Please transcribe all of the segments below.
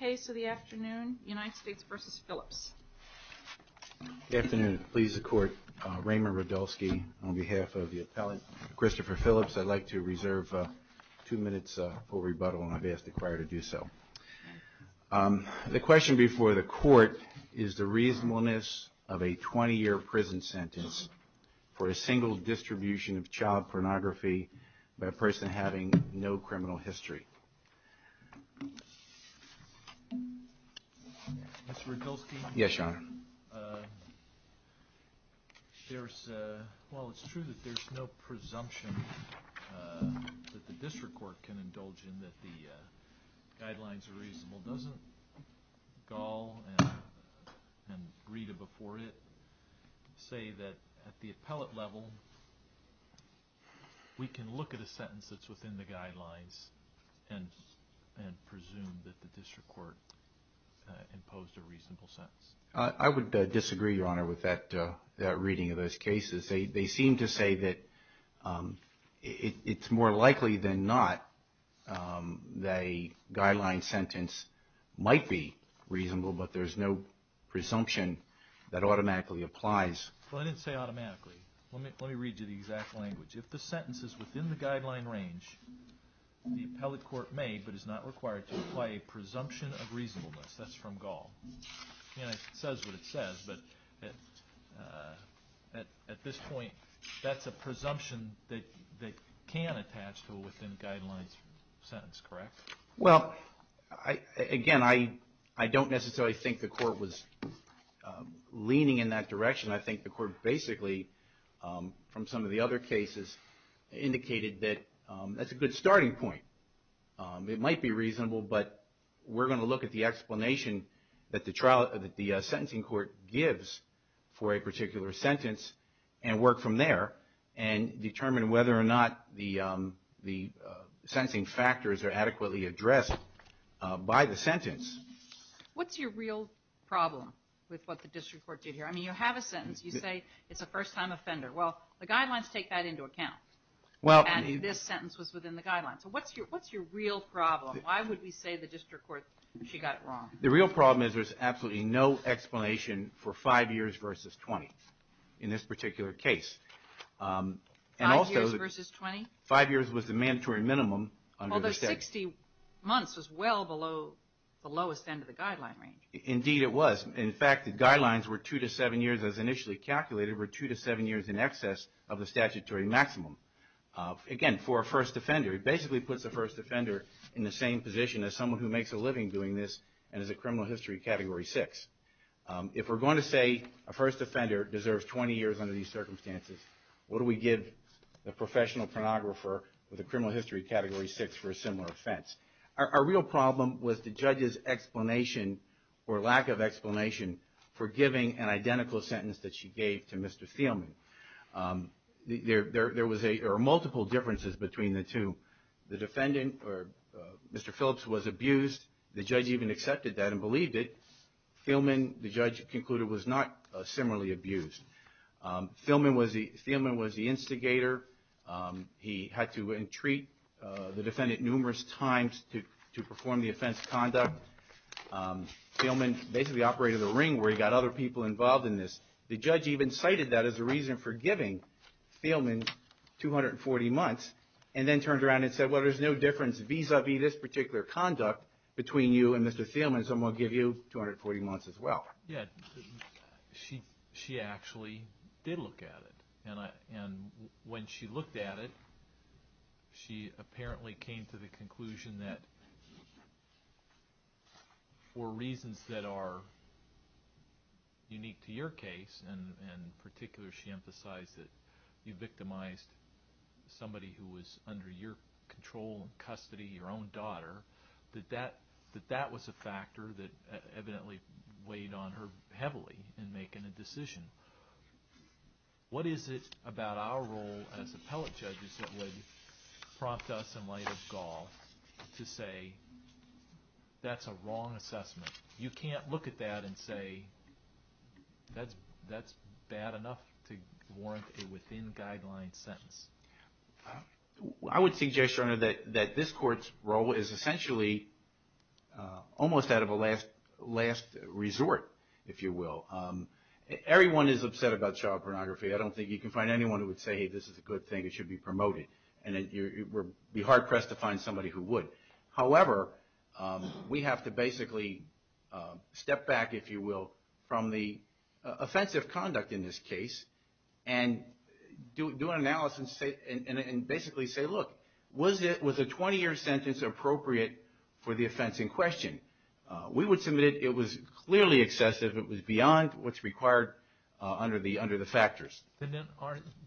The case of the afternoon, United States v. Phillips. Good afternoon. Please support Raymond Radulski on behalf of the appellate Christopher Phillips. I'd like to reserve two minutes for rebuttal, and I've asked the choir to do so. The question before the court is the reasonableness of a 20-year prison sentence for a single distribution of child pornography by a person having no criminal history. Mr. Radulski? Yes, Your Honor. While it's true that there's no presumption that the district court can indulge in that the guidelines are reasonable, doesn't Gall and Rita before it say that at the appellate level we can look at a sentence that's within the guidelines and presume that the district court imposed a reasonable sentence? I would disagree, Your Honor, with that reading of those cases. They seem to say that it's more likely than not that a guideline sentence might be reasonable, but there's no presumption that automatically applies. Well, I didn't say automatically. Let me read you the exact language. If the sentence is within the guideline range, the appellate court may, but is not required, to apply a presumption of reasonableness. That's from Gall. It says what it says, but at this point, that's a presumption that can attach to a within-guidelines sentence, correct? Well, again, I don't necessarily think the court was leaning in that direction. I think the court basically, from some of the other cases, indicated that that's a good starting point. It might be reasonable, but we're going to look at the explanation that the sentencing court gives for a particular sentence and work from there and determine whether or not the sentencing factors are adequately addressed by the sentence. What's your real problem with what the district court did here? I mean, you have a sentence. You say it's a first-time offender. Well, the guidelines take that into account, and this sentence was within the guidelines. So what's your real problem? Why would we say the district court, she got it wrong? The real problem is there's absolutely no explanation for five years versus 20 in this particular case. Five years versus 20? Five years was the mandatory minimum under the statute. Although 60 months was well below the lowest end of the guideline range. Indeed, it was. In fact, the guidelines were two to seven years, as initially calculated, were two to seven years in excess of the statutory maximum. Again, for a first offender, it basically puts a first offender in the same position as someone who makes a living doing this and is a criminal history Category 6. If we're going to say a first offender deserves 20 years under these circumstances, what do we give the professional pornographer with a criminal history Category 6 for a similar offense? Our real problem was the judge's explanation or lack of explanation for giving an identical sentence that she gave to Mr. Thielman. There were multiple differences between the two. The defendant, or Mr. Phillips, was abused. The judge even accepted that and believed it. Thielman, the judge concluded, was not similarly abused. Thielman was the instigator. He had to entreat the defendant numerous times to perform the offense conduct. Thielman basically operated the ring where he got other people involved in this. The judge even cited that as a reason for giving Thielman 240 months and then turned around and said, well, there's no difference vis-a-vis this particular conduct between you and Mr. Thielman, so I'm going to give you 240 months as well. Yeah, she actually did look at it. When she looked at it, she apparently came to the conclusion that for reasons that are unique to your case, and in particular she emphasized that you victimized somebody who was under your control and custody, your own daughter, that that was a factor that evidently weighed on her heavily in making a decision. What is it about our role as appellate judges that would prompt us in light of Gaul to say that's a wrong assessment? You can't look at that and say that's bad enough to warrant a within-guidelines sentence. I would suggest, Your Honor, that this court's role is essentially almost out of a last resort, if you will. Everyone is upset about child pornography. I don't think you can find anyone who would say, hey, this is a good thing, it should be promoted, and you'd be hard-pressed to find somebody who would. However, we have to basically step back, if you will, from the offensive conduct in this case and do an analysis and basically say, look, was a 20-year sentence appropriate for the offense in question? We would submit it was clearly excessive. It was beyond what's required under the factors. Then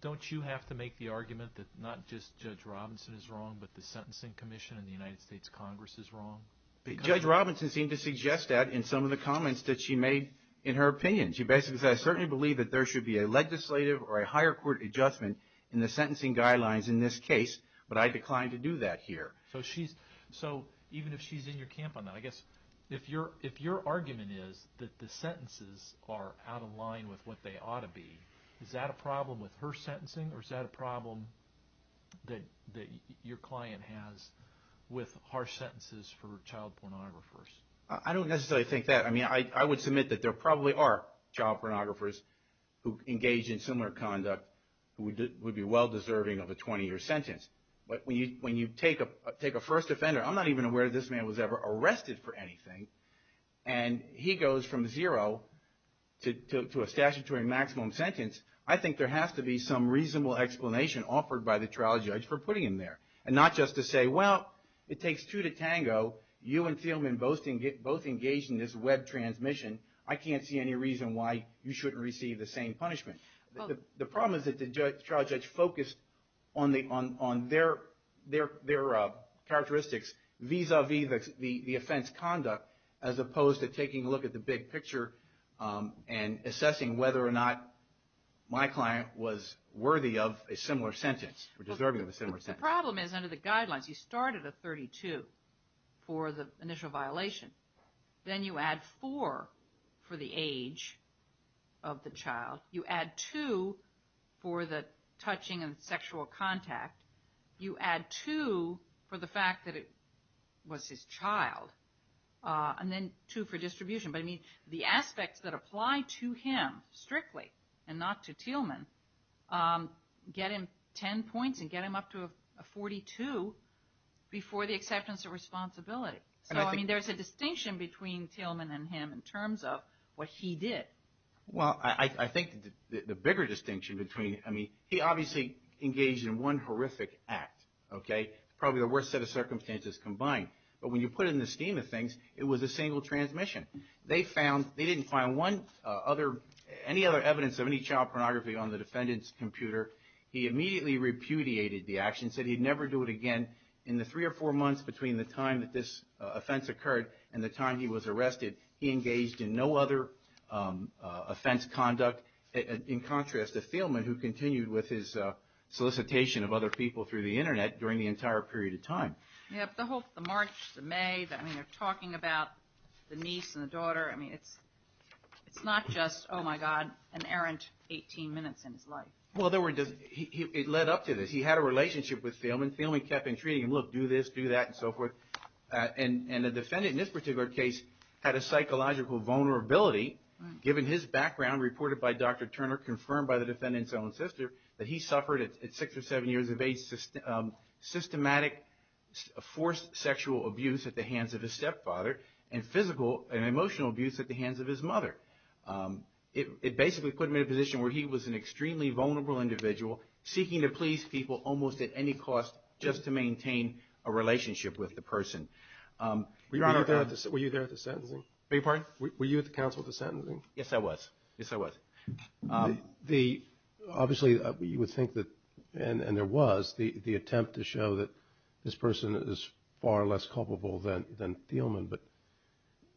don't you have to make the argument that not just Judge Robinson is wrong, but the Sentencing Commission in the United States Congress is wrong? Judge Robinson seemed to suggest that in some of the comments that she made in her opinion. She basically said, I certainly believe that there should be a legislative or a higher court adjustment in the sentencing guidelines in this case, but I decline to do that here. Even if she's in your camp on that, I guess if your argument is that the sentences are out of line with what they ought to be, is that a problem with her sentencing or is that a problem that your client has with harsh sentences for child pornographers? I don't necessarily think that. I would submit that there probably are child pornographers who engage in similar conduct who would be well-deserving of a 20-year sentence. When you take a first offender, I'm not even aware that this man was ever arrested for anything, and he goes from zero to a statutory maximum sentence, I think there has to be some reasonable explanation offered by the trial judge for putting him there. Not just to say, well, it takes two to tango. You and Thielman both engaged in this web transmission. I can't see any reason why you shouldn't receive the same punishment. The problem is that the trial judge focused on their characteristics vis-a-vis the offense conduct as opposed to taking a look at the big picture and assessing whether or not my client was worthy of a similar sentence or deserving of a similar sentence. The problem is under the guidelines you start at a 32 for the initial violation. Then you add four for the age of the child. You add two for the touching and sexual contact. You add two for the fact that it was his child. And then two for distribution. But, I mean, the aspects that apply to him strictly and not to Thielman get him 10 points and get him up to a 42 before the acceptance of responsibility. So, I mean, there's a distinction between Thielman and him in terms of what he did. Well, I think the bigger distinction between, I mean, he obviously engaged in one horrific act. Okay? Probably the worst set of circumstances combined. But when you put it in the scheme of things, it was a single transmission. They didn't find any other evidence of any child pornography on the defendant's computer. He immediately repudiated the action, said he'd never do it again. In the three or four months between the time that this offense occurred and the time he was arrested, he engaged in no other offense conduct, in contrast to Thielman, who continued with his solicitation of other people through the Internet during the entire period of time. Yeah, but the March, the May, I mean, they're talking about the niece and the daughter. I mean, it's not just, oh, my God, an errant 18 minutes in his life. Well, it led up to this. He had a relationship with Thielman. Thielman kept intriguing him, look, do this, do that, and so forth. And the defendant in this particular case had a psychological vulnerability, given his background reported by Dr. Turner, confirmed by the defendant's own sister, that he suffered at six or seven years of age systematic forced sexual abuse at the hands of his stepfather and physical and emotional abuse at the hands of his mother. It basically put him in a position where he was an extremely vulnerable individual, seeking to please people almost at any cost just to maintain a relationship with the person. Were you there at the sentencing? Beg your pardon? Were you at the council at the sentencing? Yes, I was. Yes, I was. Obviously, you would think that, and there was, the attempt to show that this person is far less culpable than Thielman, but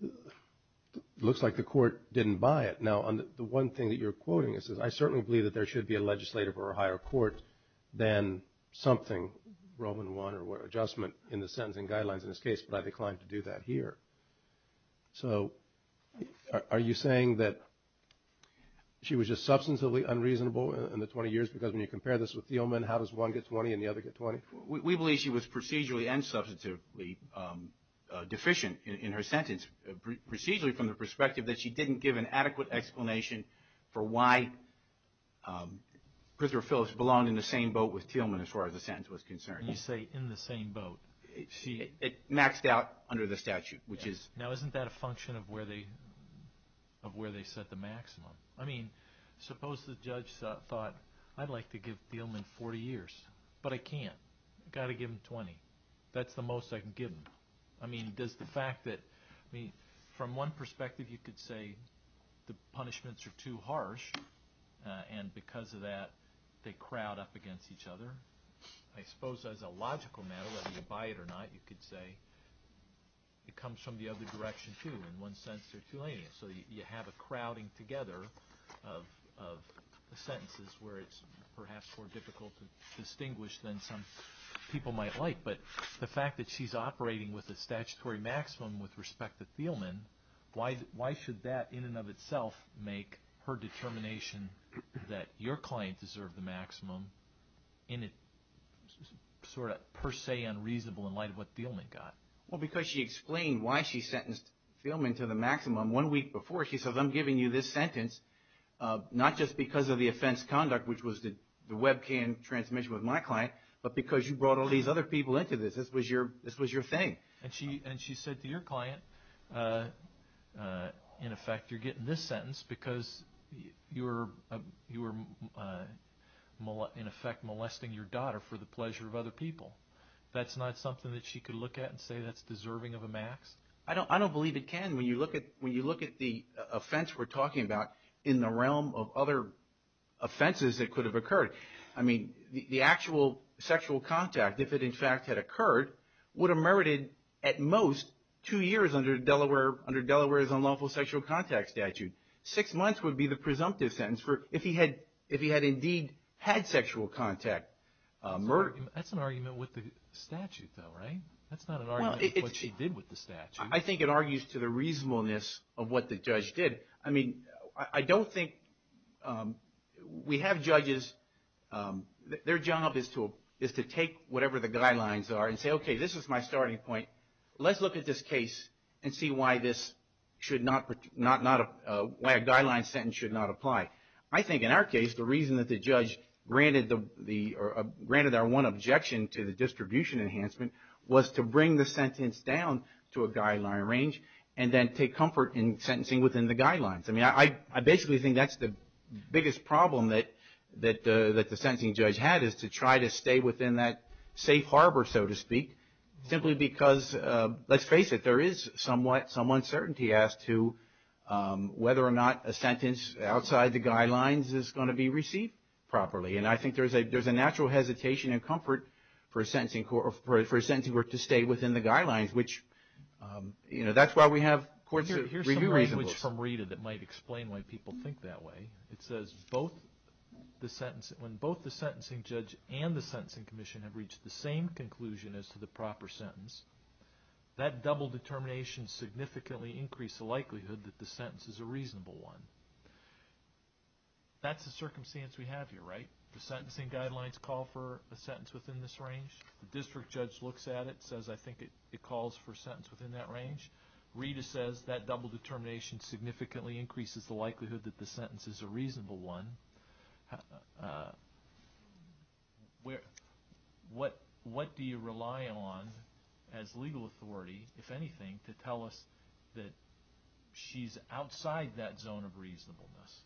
it looks like the court didn't buy it. Now, the one thing that you're quoting is, I certainly believe that there should be a legislative or a higher court than something Roman I or adjustment in the sentencing guidelines in this case, but I declined to do that here. So are you saying that she was just substantively unreasonable in the 20 years, because when you compare this with Thielman, how does one get 20 and the other get 20? We believe she was procedurally and substantively deficient in her sentence, procedurally from the perspective that she didn't give an adequate explanation for why Prisner or Phillips belonged in the same boat with Thielman as far as the sentence was concerned. You say in the same boat. It maxed out under the statute, which is. Now, isn't that a function of where they set the maximum? I mean, suppose the judge thought, I'd like to give Thielman 40 years, but I can't. I've got to give him 20. That's the most I can give him. I mean, from one perspective, you could say the punishments are too harsh, and because of that, they crowd up against each other. I suppose as a logical matter, whether you buy it or not, you could say it comes from the other direction, too. In one sense, they're too lenient, so you have a crowding together of sentences where it's perhaps more difficult to distinguish than some people might like. But the fact that she's operating with a statutory maximum with respect to Thielman, why should that in and of itself make her determination that your client deserved the maximum sort of per se unreasonable in light of what Thielman got? Well, because she explained why she sentenced Thielman to the maximum one week before. She says, I'm giving you this sentence not just because of the offense conduct, which was the webcam transmission with my client, but because you brought all these other people into this. This was your thing. And she said to your client, in effect, you're getting this sentence because you were, in effect, molesting your daughter for the pleasure of other people. That's not something that she could look at and say that's deserving of a max? I don't believe it can. When you look at the offense we're talking about in the realm of other offenses that could have occurred, I mean, the actual sexual contact, if it in fact had occurred, would have merited at most two years under Delaware's unlawful sexual contact statute. Six months would be the presumptive sentence if he had indeed had sexual contact. That's an argument with the statute, though, right? That's not an argument with what she did with the statute. I think it argues to the reasonableness of what the judge did. I mean, I don't think we have judges. Their job is to take whatever the guidelines are and say, okay, this is my starting point. Let's look at this case and see why a guideline sentence should not apply. I think in our case, the reason that the judge granted our one objection to the distribution enhancement was to bring the sentence down to a guideline range and then take comfort in sentencing within the guidelines. I mean, I basically think that's the biggest problem that the sentencing judge had, is to try to stay within that safe harbor, so to speak, simply because, let's face it, there is some uncertainty as to whether or not a sentence outside the guidelines is going to be received properly. And I think there's a natural hesitation and comfort for a sentencing court to stay within the guidelines, which that's why we have courts that review reasonableness. Here's some language from Rita that might explain why people think that way. It says when both the sentencing judge and the sentencing commission have reached the same conclusion as to the proper sentence, that double determination significantly increased the likelihood that the sentence is a reasonable one. That's the circumstance we have here, right? The sentencing guidelines call for a sentence within this range. The district judge looks at it and says, I think it calls for a sentence within that range. Rita says that double determination significantly increases the likelihood that the sentence is a reasonable one. What do you rely on as legal authority, if anything, to tell us that she's outside that zone of reasonableness?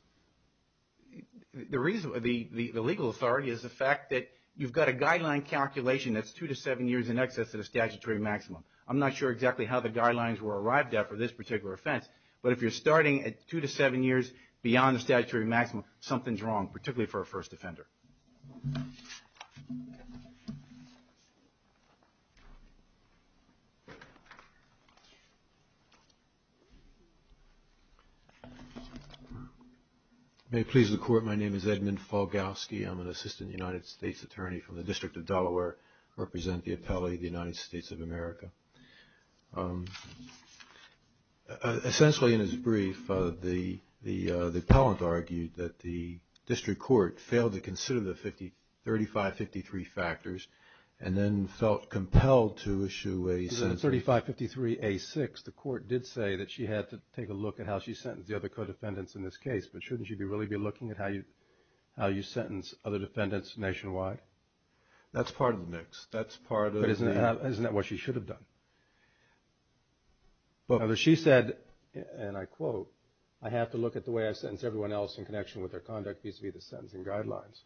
The legal authority is the fact that you've got a guideline calculation that's two to seven years in excess of the statutory maximum. I'm not sure exactly how the guidelines were arrived at for this particular offense, but if you're starting at two to seven years beyond the statutory maximum, something's wrong, particularly for a first offender. May it please the Court, my name is Edmund Falgowski. I'm an assistant United States attorney from the District of Delaware. I represent the appellate of the United States of America. Essentially, in his brief, the appellant argued that the district court failed to consider the 3553 factors and then felt compelled to issue a sentence. In 3553A6, the court did say that she had to take a look at how she sentenced the other co-defendants in this case, but shouldn't she really be looking at how you sentence other defendants nationwide? That's part of the mix. Isn't that what she should have done? She said, and I quote, I have to look at the way I sentence everyone else in connection with their conduct vis-à-vis the sentencing guidelines.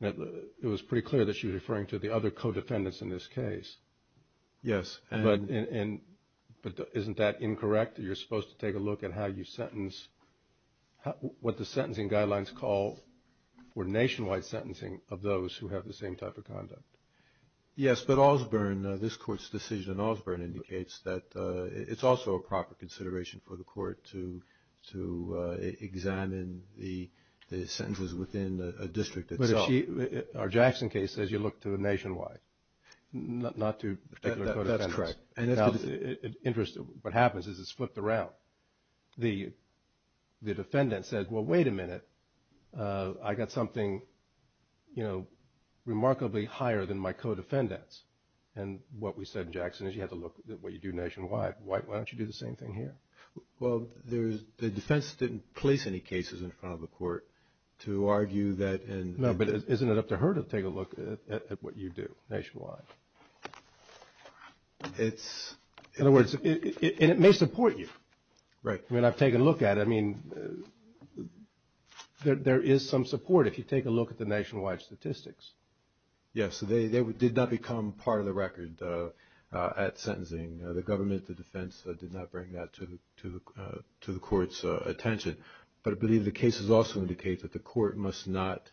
It was pretty clear that she was referring to the other co-defendants in this case. Yes. But isn't that incorrect? You're supposed to take a look at how you sentence, what the sentencing guidelines call for nationwide sentencing of those who have the same type of conduct. Yes, but Osborne, this court's decision in Osborne, indicates that it's also a proper consideration for the court to examine the sentences within a district itself. Our Jackson case says you look to the nationwide, not to the particular co-defendants. That's correct. What happens is it's flipped around. The defendant says, well, wait a minute. I got something remarkably higher than my co-defendants. And what we said in Jackson is you have to look at what you do nationwide. Why don't you do the same thing here? Well, the defense didn't place any cases in front of the court to argue that. No, but isn't it up to her to take a look at what you do nationwide? In other words, and it may support you. Right. I mean, I've taken a look at it. I mean, there is some support if you take a look at the nationwide statistics. Yes, they did not become part of the record at sentencing. The government, the defense did not bring that to the court's attention. But I believe the cases also indicate that the court must not,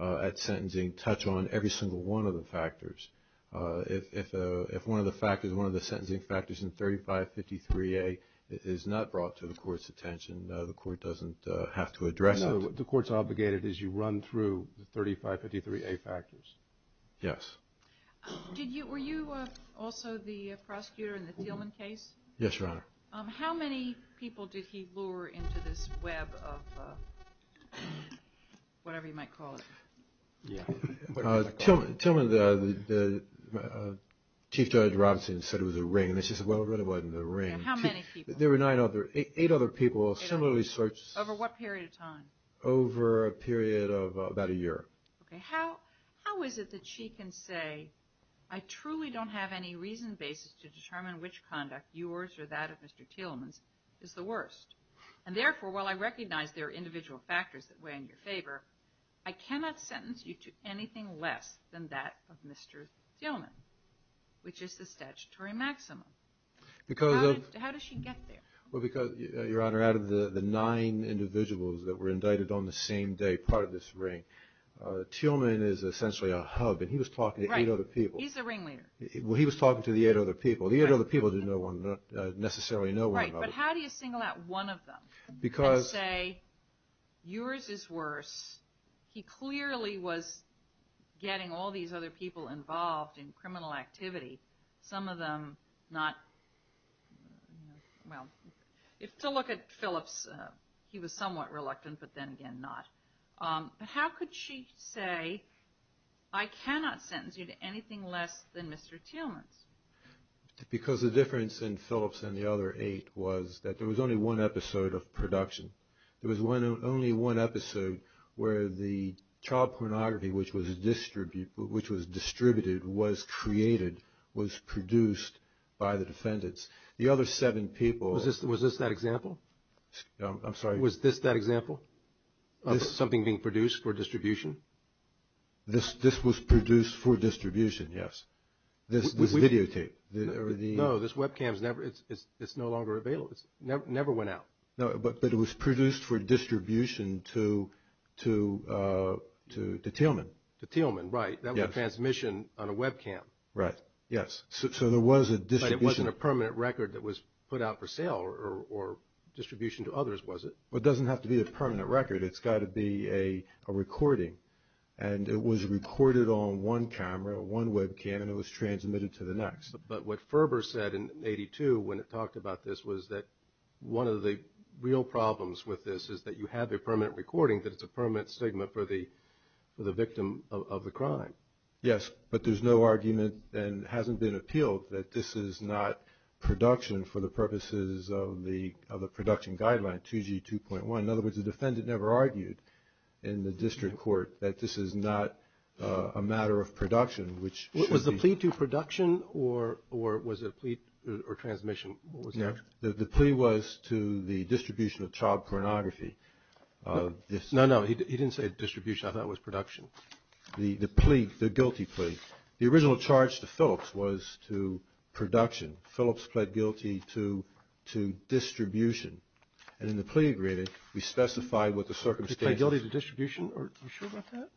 at sentencing, touch on every single one of the factors. If one of the sentencing factors in 3553A is not brought to the court's attention, the court doesn't have to address it. No, the court's obligated as you run through the 3553A factors. Yes. Were you also the prosecutor in the Thielman case? Yes, Your Honor. How many people did he lure into this web of whatever you might call it? Thielman, the Chief Judge Robinson said it was a ring. And she said, well, it really wasn't a ring. How many people? There were eight other people similarly searched. Over what period of time? Over a period of about a year. Okay. How is it that she can say, I truly don't have any reason basis to determine which conduct, yours or that of Mr. Thielman's, is the worst. And, therefore, while I recognize there are individual factors that weigh in your favor, I cannot sentence you to anything less than that of Mr. Thielman, which is the statutory maximum. How does she get there? Well, because, Your Honor, out of the nine individuals that were indicted on the same day, part of this ring, Thielman is essentially a hub. And he was talking to eight other people. Right. He's the ringleader. Well, he was talking to the eight other people. The eight other people didn't necessarily know one another. Right. But how do you single out one of them and say, yours is worse. He clearly was getting all these other people involved in criminal activity, some of them not, well, to look at Phillips, he was somewhat reluctant, but then again not. How could she say, I cannot sentence you to anything less than Mr. Thielman's? Because the difference in Phillips and the other eight was that there was only one episode of production. There was only one episode where the child pornography, which was distributed, was created, was produced by the defendants. The other seven people. Was this that example? I'm sorry. Was this that example of something being produced for distribution? This was produced for distribution, yes. This videotape. No, this webcam is no longer available. It never went out. But it was produced for distribution to Thielman. To Thielman, right. That was a transmission on a webcam. Right, yes. So there was a distribution. It wasn't a permanent record that was put out for sale or distribution to others, was it? It doesn't have to be a permanent record. It's got to be a recording, and it was recorded on one camera, one webcam, and it was transmitted to the next. But what Ferber said in 1982 when it talked about this was that one of the real problems with this is that you have a permanent recording, that it's a permanent statement for the victim of the crime. Yes, but there's no argument, and it hasn't been appealed, that this is not production for the purposes of the production guideline, 2G 2.1. In other words, the defendant never argued in the district court that this is not a matter of production, which should be. Was the plea to production or was it a plea or transmission? What was the action? The plea was to the distribution of child pornography. No, no, he didn't say distribution. I thought it was production. The plea, the guilty plea, the original charge to Phillips was to production. Phillips pled guilty to distribution, and in the plea agreement, we specified what the circumstances. He pled guilty to distribution? Are you sure about that?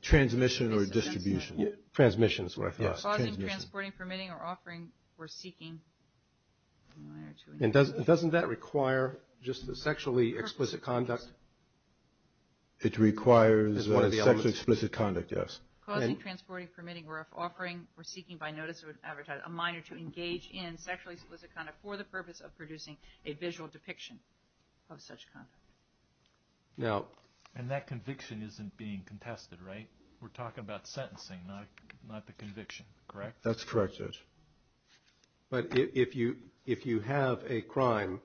Transmission or distribution? Transmission is what I thought. Yes, transmission. Causing, transporting, permitting, or offering, or seeking. Doesn't that require just a sexually explicit conduct? It requires a sexually explicit conduct, yes. Causing, transporting, permitting, or offering, or seeking by notice of an advertiser, a minor to engage in sexually explicit conduct for the purpose of producing a visual depiction of such conduct. And that conviction isn't being contested, right? We're talking about sentencing, not the conviction, correct? That's correct, Judge. But if you have a crime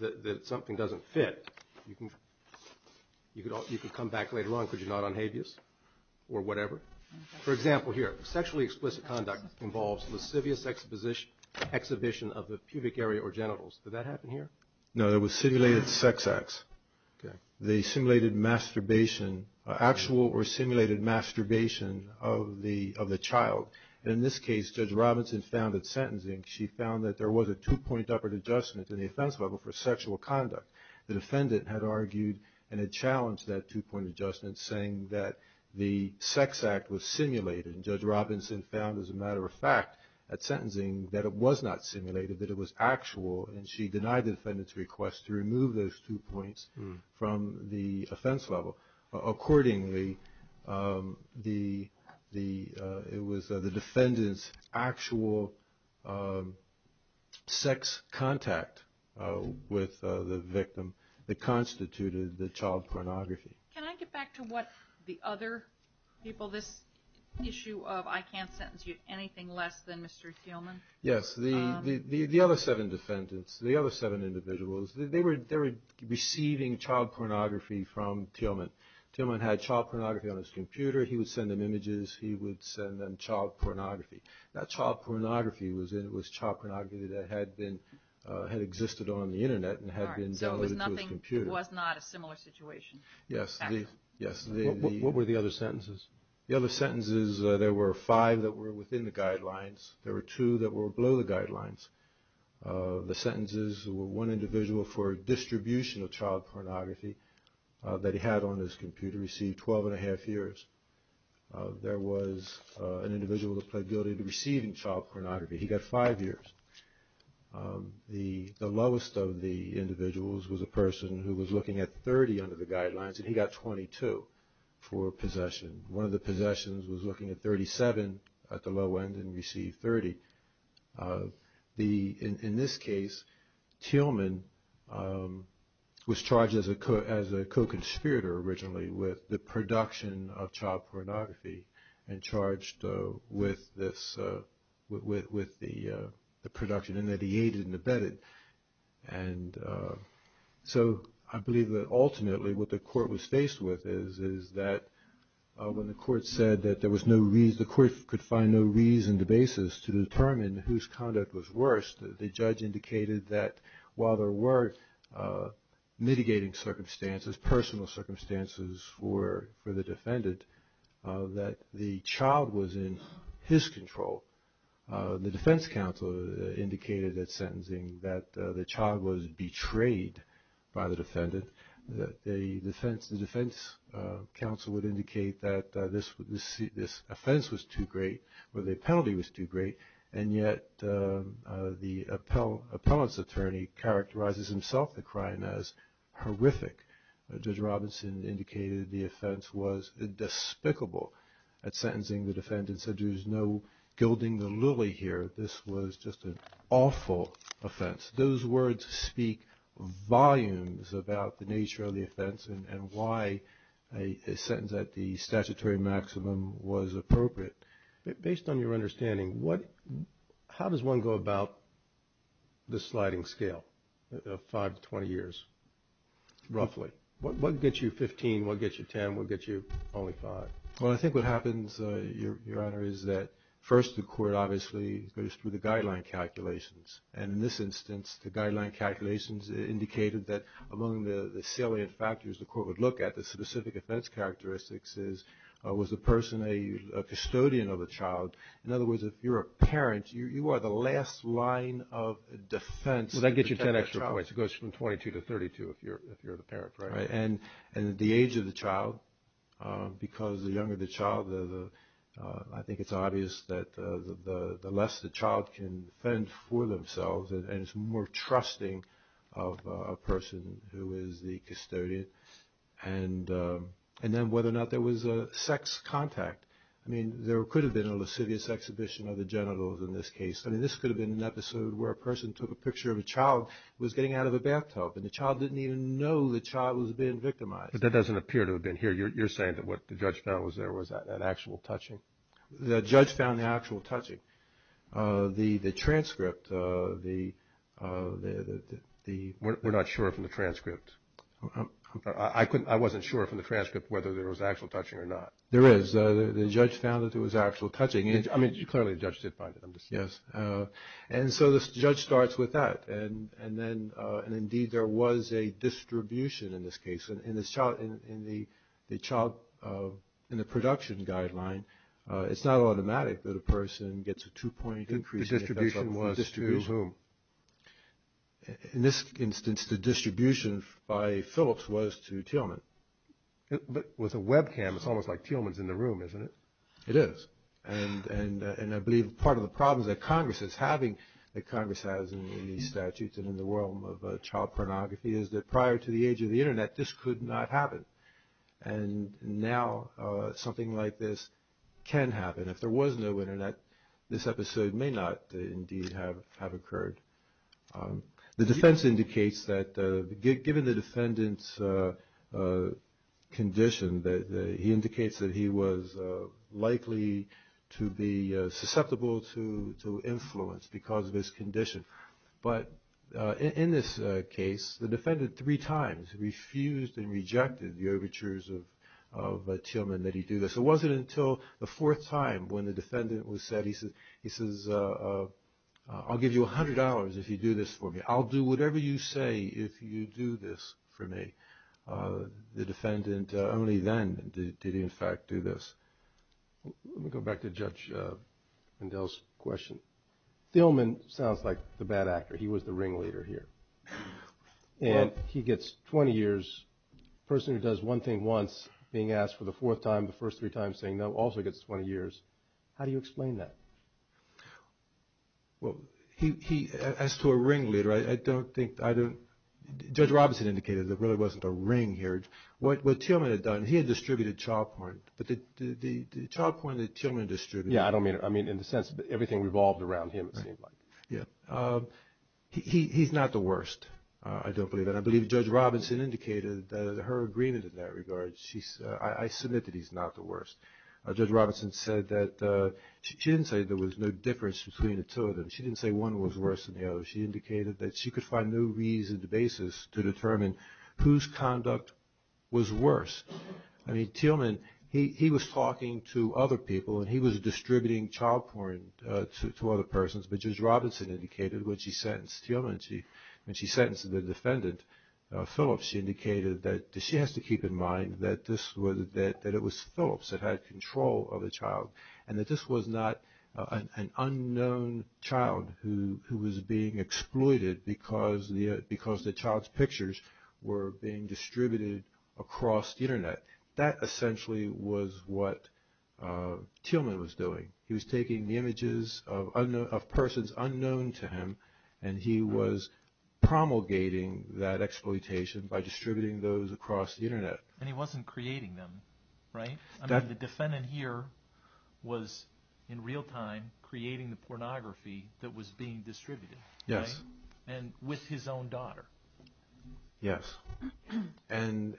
that something doesn't fit, you can come back later on, could you not, on habeas or whatever? For example, here, sexually explicit conduct involves lascivious exhibition of the pubic area or genitals. Did that happen here? No, that was simulated sex acts. Okay. The simulated masturbation, actual or simulated masturbation of the child. And in this case, Judge Robinson found that sentencing, she found that there was a two-point upper adjustment in the offense level for sexual conduct. The defendant had argued and had challenged that two-point adjustment, saying that the sex act was simulated. And Judge Robinson found, as a matter of fact, that sentencing, that it was not simulated, that it was actual. And she denied the defendant's request to remove those two points from the offense level. Accordingly, it was the defendant's actual sex contact with the victim that constituted the child pornography. Can I get back to what the other people, this issue of I can't sentence you to anything less than Mr. Thielman? Yes. The other seven defendants, the other seven individuals, they were receiving child pornography from Thielman. Thielman had child pornography on his computer. He would send them images. He would send them child pornography. That child pornography was child pornography that had existed on the Internet and had been downloaded to his computer. All right. So it was not a similar situation. Yes. What were the other sentences? The other sentences, there were five that were within the guidelines. There were two that were below the guidelines. The sentences were one individual for distribution of child pornography that he had on his computer, received 12 1⁄2 years. There was an individual that pled guilty to receiving child pornography. He got five years. The lowest of the individuals was a person who was looking at 30 under the guidelines, and he got 22 for possession. One of the possessions was looking at 37 at the low end and received 30. In this case, Thielman was charged as a co-conspirator originally with the production of child pornography and charged with the production and that he aided and abetted. And so I believe that ultimately what the court was faced with is that when the court said that there was no reason, the court could find no reason to basis to determine whose conduct was worse, the judge indicated that while there were mitigating circumstances, personal circumstances for the defendant, that the child was in his control. The defense counsel indicated at sentencing that the child was betrayed by the defendant. The defense counsel would indicate that this offense was too great or the penalty was too great, and yet the appellant's attorney characterizes himself the crime as horrific. Judge Robinson indicated the offense was despicable at sentencing. The defendant said there's no gilding the lily here. This was just an awful offense. Those words speak volumes about the nature of the offense and why a sentence at the statutory maximum was appropriate. Based on your understanding, how does one go about the sliding scale of 5 to 20 years roughly? What gets you 15, what gets you 10, what gets you only 5? Well, I think what happens, Your Honor, is that first the court obviously goes through the guideline calculations, and in this instance the guideline calculations indicated that among the salient factors the court would look at, the specific offense characteristics is was the person a custodian of the child? In other words, if you're a parent, you are the last line of defense. Well, that gets you 10 extra points. It goes from 22 to 32 if you're the parent, right? And the age of the child, because the younger the child, I think it's obvious that the less the child can defend for themselves and is more trusting of a person who is the custodian. And then whether or not there was a sex contact. I mean, there could have been a lascivious exhibition of the genitals in this case. I mean, this could have been an episode where a person took a picture of a child who was getting out of a bathtub and the child didn't even know the child was being victimized. But that doesn't appear to have been here. You're saying that what the judge found was there was that actual touching? The judge found the actual touching. The transcript, the... We're not sure from the transcript. I wasn't sure from the transcript whether there was actual touching or not. There is. The judge found that there was actual touching. I mean, clearly the judge did find it. Yes. And so the judge starts with that. And then, indeed, there was a distribution in this case. In the production guideline, it's not automatic that a person gets a two-point increase. The distribution was to whom? In this instance, the distribution by Phillips was to Tillman. But with a webcam, it's almost like Tillman's in the room, isn't it? It is. And I believe part of the problems that Congress is having, that Congress has in these statutes and in the realm of child pornography, is that prior to the age of the Internet, this could not happen. And now something like this can happen. If there was no Internet, this episode may not indeed have occurred. The defense indicates that given the defendant's condition, he indicates that he was likely to be susceptible to influence because of his condition. But in this case, the defendant three times refused and rejected the overtures of Tillman that he do this. It wasn't until the fourth time when the defendant was said, he says, I'll give you $100 if you do this for me. I'll do whatever you say if you do this for me. The defendant only then did he, in fact, do this. Let me go back to Judge Mandel's question. Tillman sounds like the bad actor. He was the ringleader here. And he gets 20 years, a person who does one thing once being asked for the fourth time, the first three times saying no, also gets 20 years. How do you explain that? Well, as to a ringleader, I don't think, Judge Robinson indicated there really wasn't a ring here. What Tillman had done, he had distributed child porn. But the child porn that Tillman distributed. Yeah, I don't mean, I mean in the sense that everything revolved around him, it seemed like. He's not the worst, I don't believe. And I believe Judge Robinson indicated that her agreement in that regard, I submit that he's not the worst. Judge Robinson said that, she didn't say there was no difference between the two of them. She didn't say one was worse than the other. She indicated that she could find no reason to basis to determine whose conduct was worse. I mean Tillman, he was talking to other people and he was distributing child porn to other persons. But Judge Robinson indicated when she sentenced Tillman, when she sentenced the defendant, Phillips, she indicated that she has to keep in mind that this was, that it was Phillips that had control of the child. And that this was not an unknown child who was being exploited because the child's pictures were being distributed across the Internet. That essentially was what Tillman was doing. He was taking the images of persons unknown to him and he was promulgating that exploitation by distributing those across the Internet. And he wasn't creating them, right? I mean the defendant here was in real time creating the pornography that was being distributed. Yes. And with his own daughter. Yes. And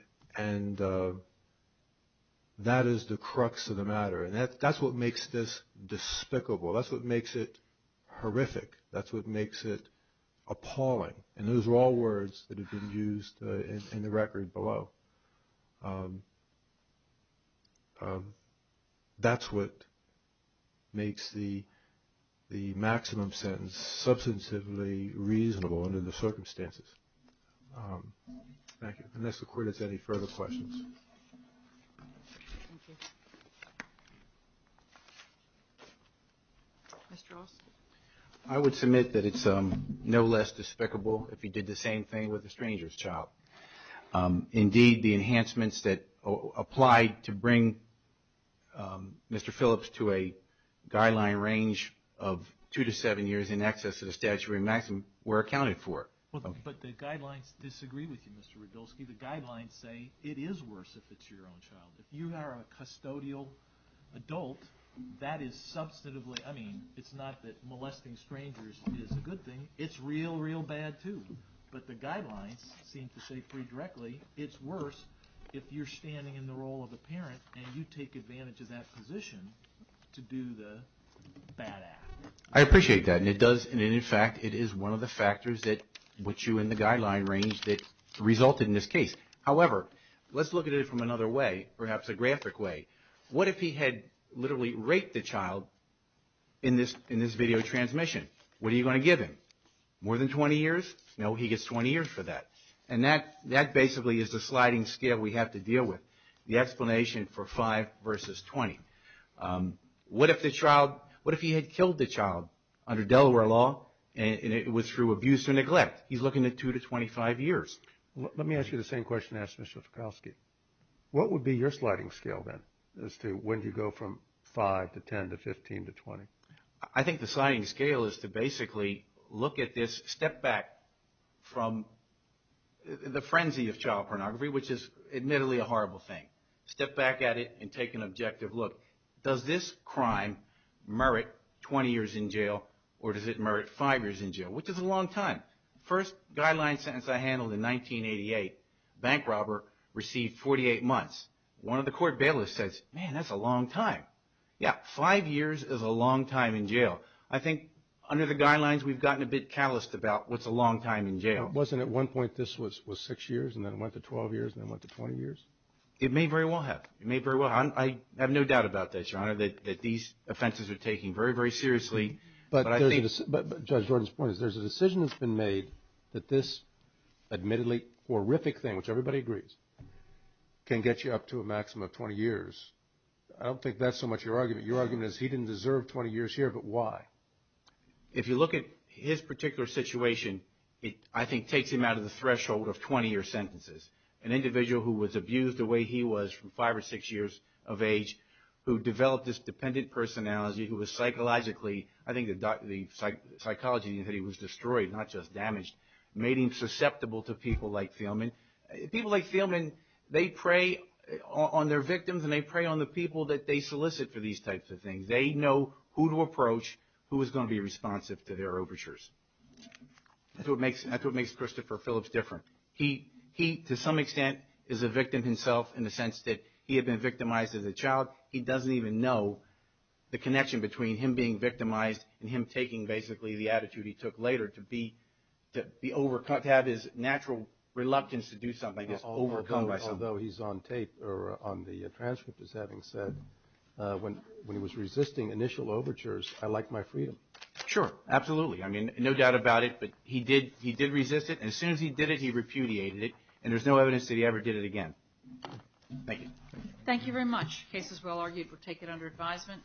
that is the crux of the matter. And that's what makes this despicable. That's what makes it horrific. That's what makes it appalling. And those are all words that have been used in the record below. That's what makes the maximum sentence substantively reasonable under the circumstances. Thank you. Unless the court has any further questions. Thank you. Mr. Austin. I would submit that it's no less despicable if he did the same thing with a stranger's child. Indeed, the enhancements that applied to bring Mr. Phillips to a guideline range of two to seven years in excess of the statutory maximum were accounted for. But the guidelines disagree with you, Mr. Radulski. The guidelines say it is worse if it's your own child. If you are a custodial adult, that is substantively – I mean it's not that molesting strangers is a good thing. It's real, real bad too. But the guidelines seem to say pretty directly it's worse if you're standing in the role of a parent and you take advantage of that position to do the bad act. I appreciate that. And it does – and, in fact, it is one of the factors that put you in the guideline range that resulted in this case. However, let's look at it from another way, perhaps a graphic way. What if he had literally raped a child in this video transmission? What are you going to give him? More than 20 years? No, he gets 20 years for that. And that basically is the sliding scale we have to deal with, the explanation for five versus 20. What if the child – what if he had killed the child under Delaware law and it was through abuse or neglect? He's looking at two to 25 years. Let me ask you the same question I asked Mr. Fikowski. What would be your sliding scale then as to when you go from five to 10 to 15 to 20? I think the sliding scale is to basically look at this, step back from the frenzy of child pornography, which is admittedly a horrible thing. Step back at it and take an objective look. Does this crime merit 20 years in jail or does it merit five years in jail, which is a long time. First guideline sentence I handled in 1988, bank robber received 48 months. One of the court bailiffs says, man, that's a long time. Yeah, five years is a long time in jail. I think under the guidelines we've gotten a bit calloused about what's a long time in jail. Wasn't at one point this was six years and then it went to 12 years and then it went to 20 years? It may very well have. It may very well have. I have no doubt about this, Your Honor, that these offenses are taken very, very seriously. But I think – But Judge Gordon's point is there's a decision that's been made that this admittedly horrific thing, which everybody agrees, can get you up to a maximum of 20 years. I don't think that's so much your argument. Your argument is he didn't deserve 20 years here, but why? If you look at his particular situation, it, I think, takes him out of the threshold of 20-year sentences. An individual who was abused the way he was from five or six years of age, who developed this dependent personality, who was psychologically – I think the psychology is that he was destroyed, not just damaged – made him susceptible to people like Thielman. People like Thielman, they prey on their victims and they prey on the people that they solicit for these types of things. They know who to approach, who is going to be responsive to their overtures. That's what makes Christopher Phillips different. He, to some extent, is a victim himself in the sense that he had been victimized as a child. He doesn't even know the connection between him being victimized and him taking, basically, the attitude he took later to have his natural reluctance to do something is overcome by something. Although he's on tape or on the transcript, as having said, when he was resisting initial overtures, I like my freedom. Sure, absolutely. I mean, no doubt about it, but he did resist it, and as soon as he did it, he repudiated it, and there's no evidence that he ever did it again. Thank you. Thank you very much. The case is well argued. We'll take it under advisement.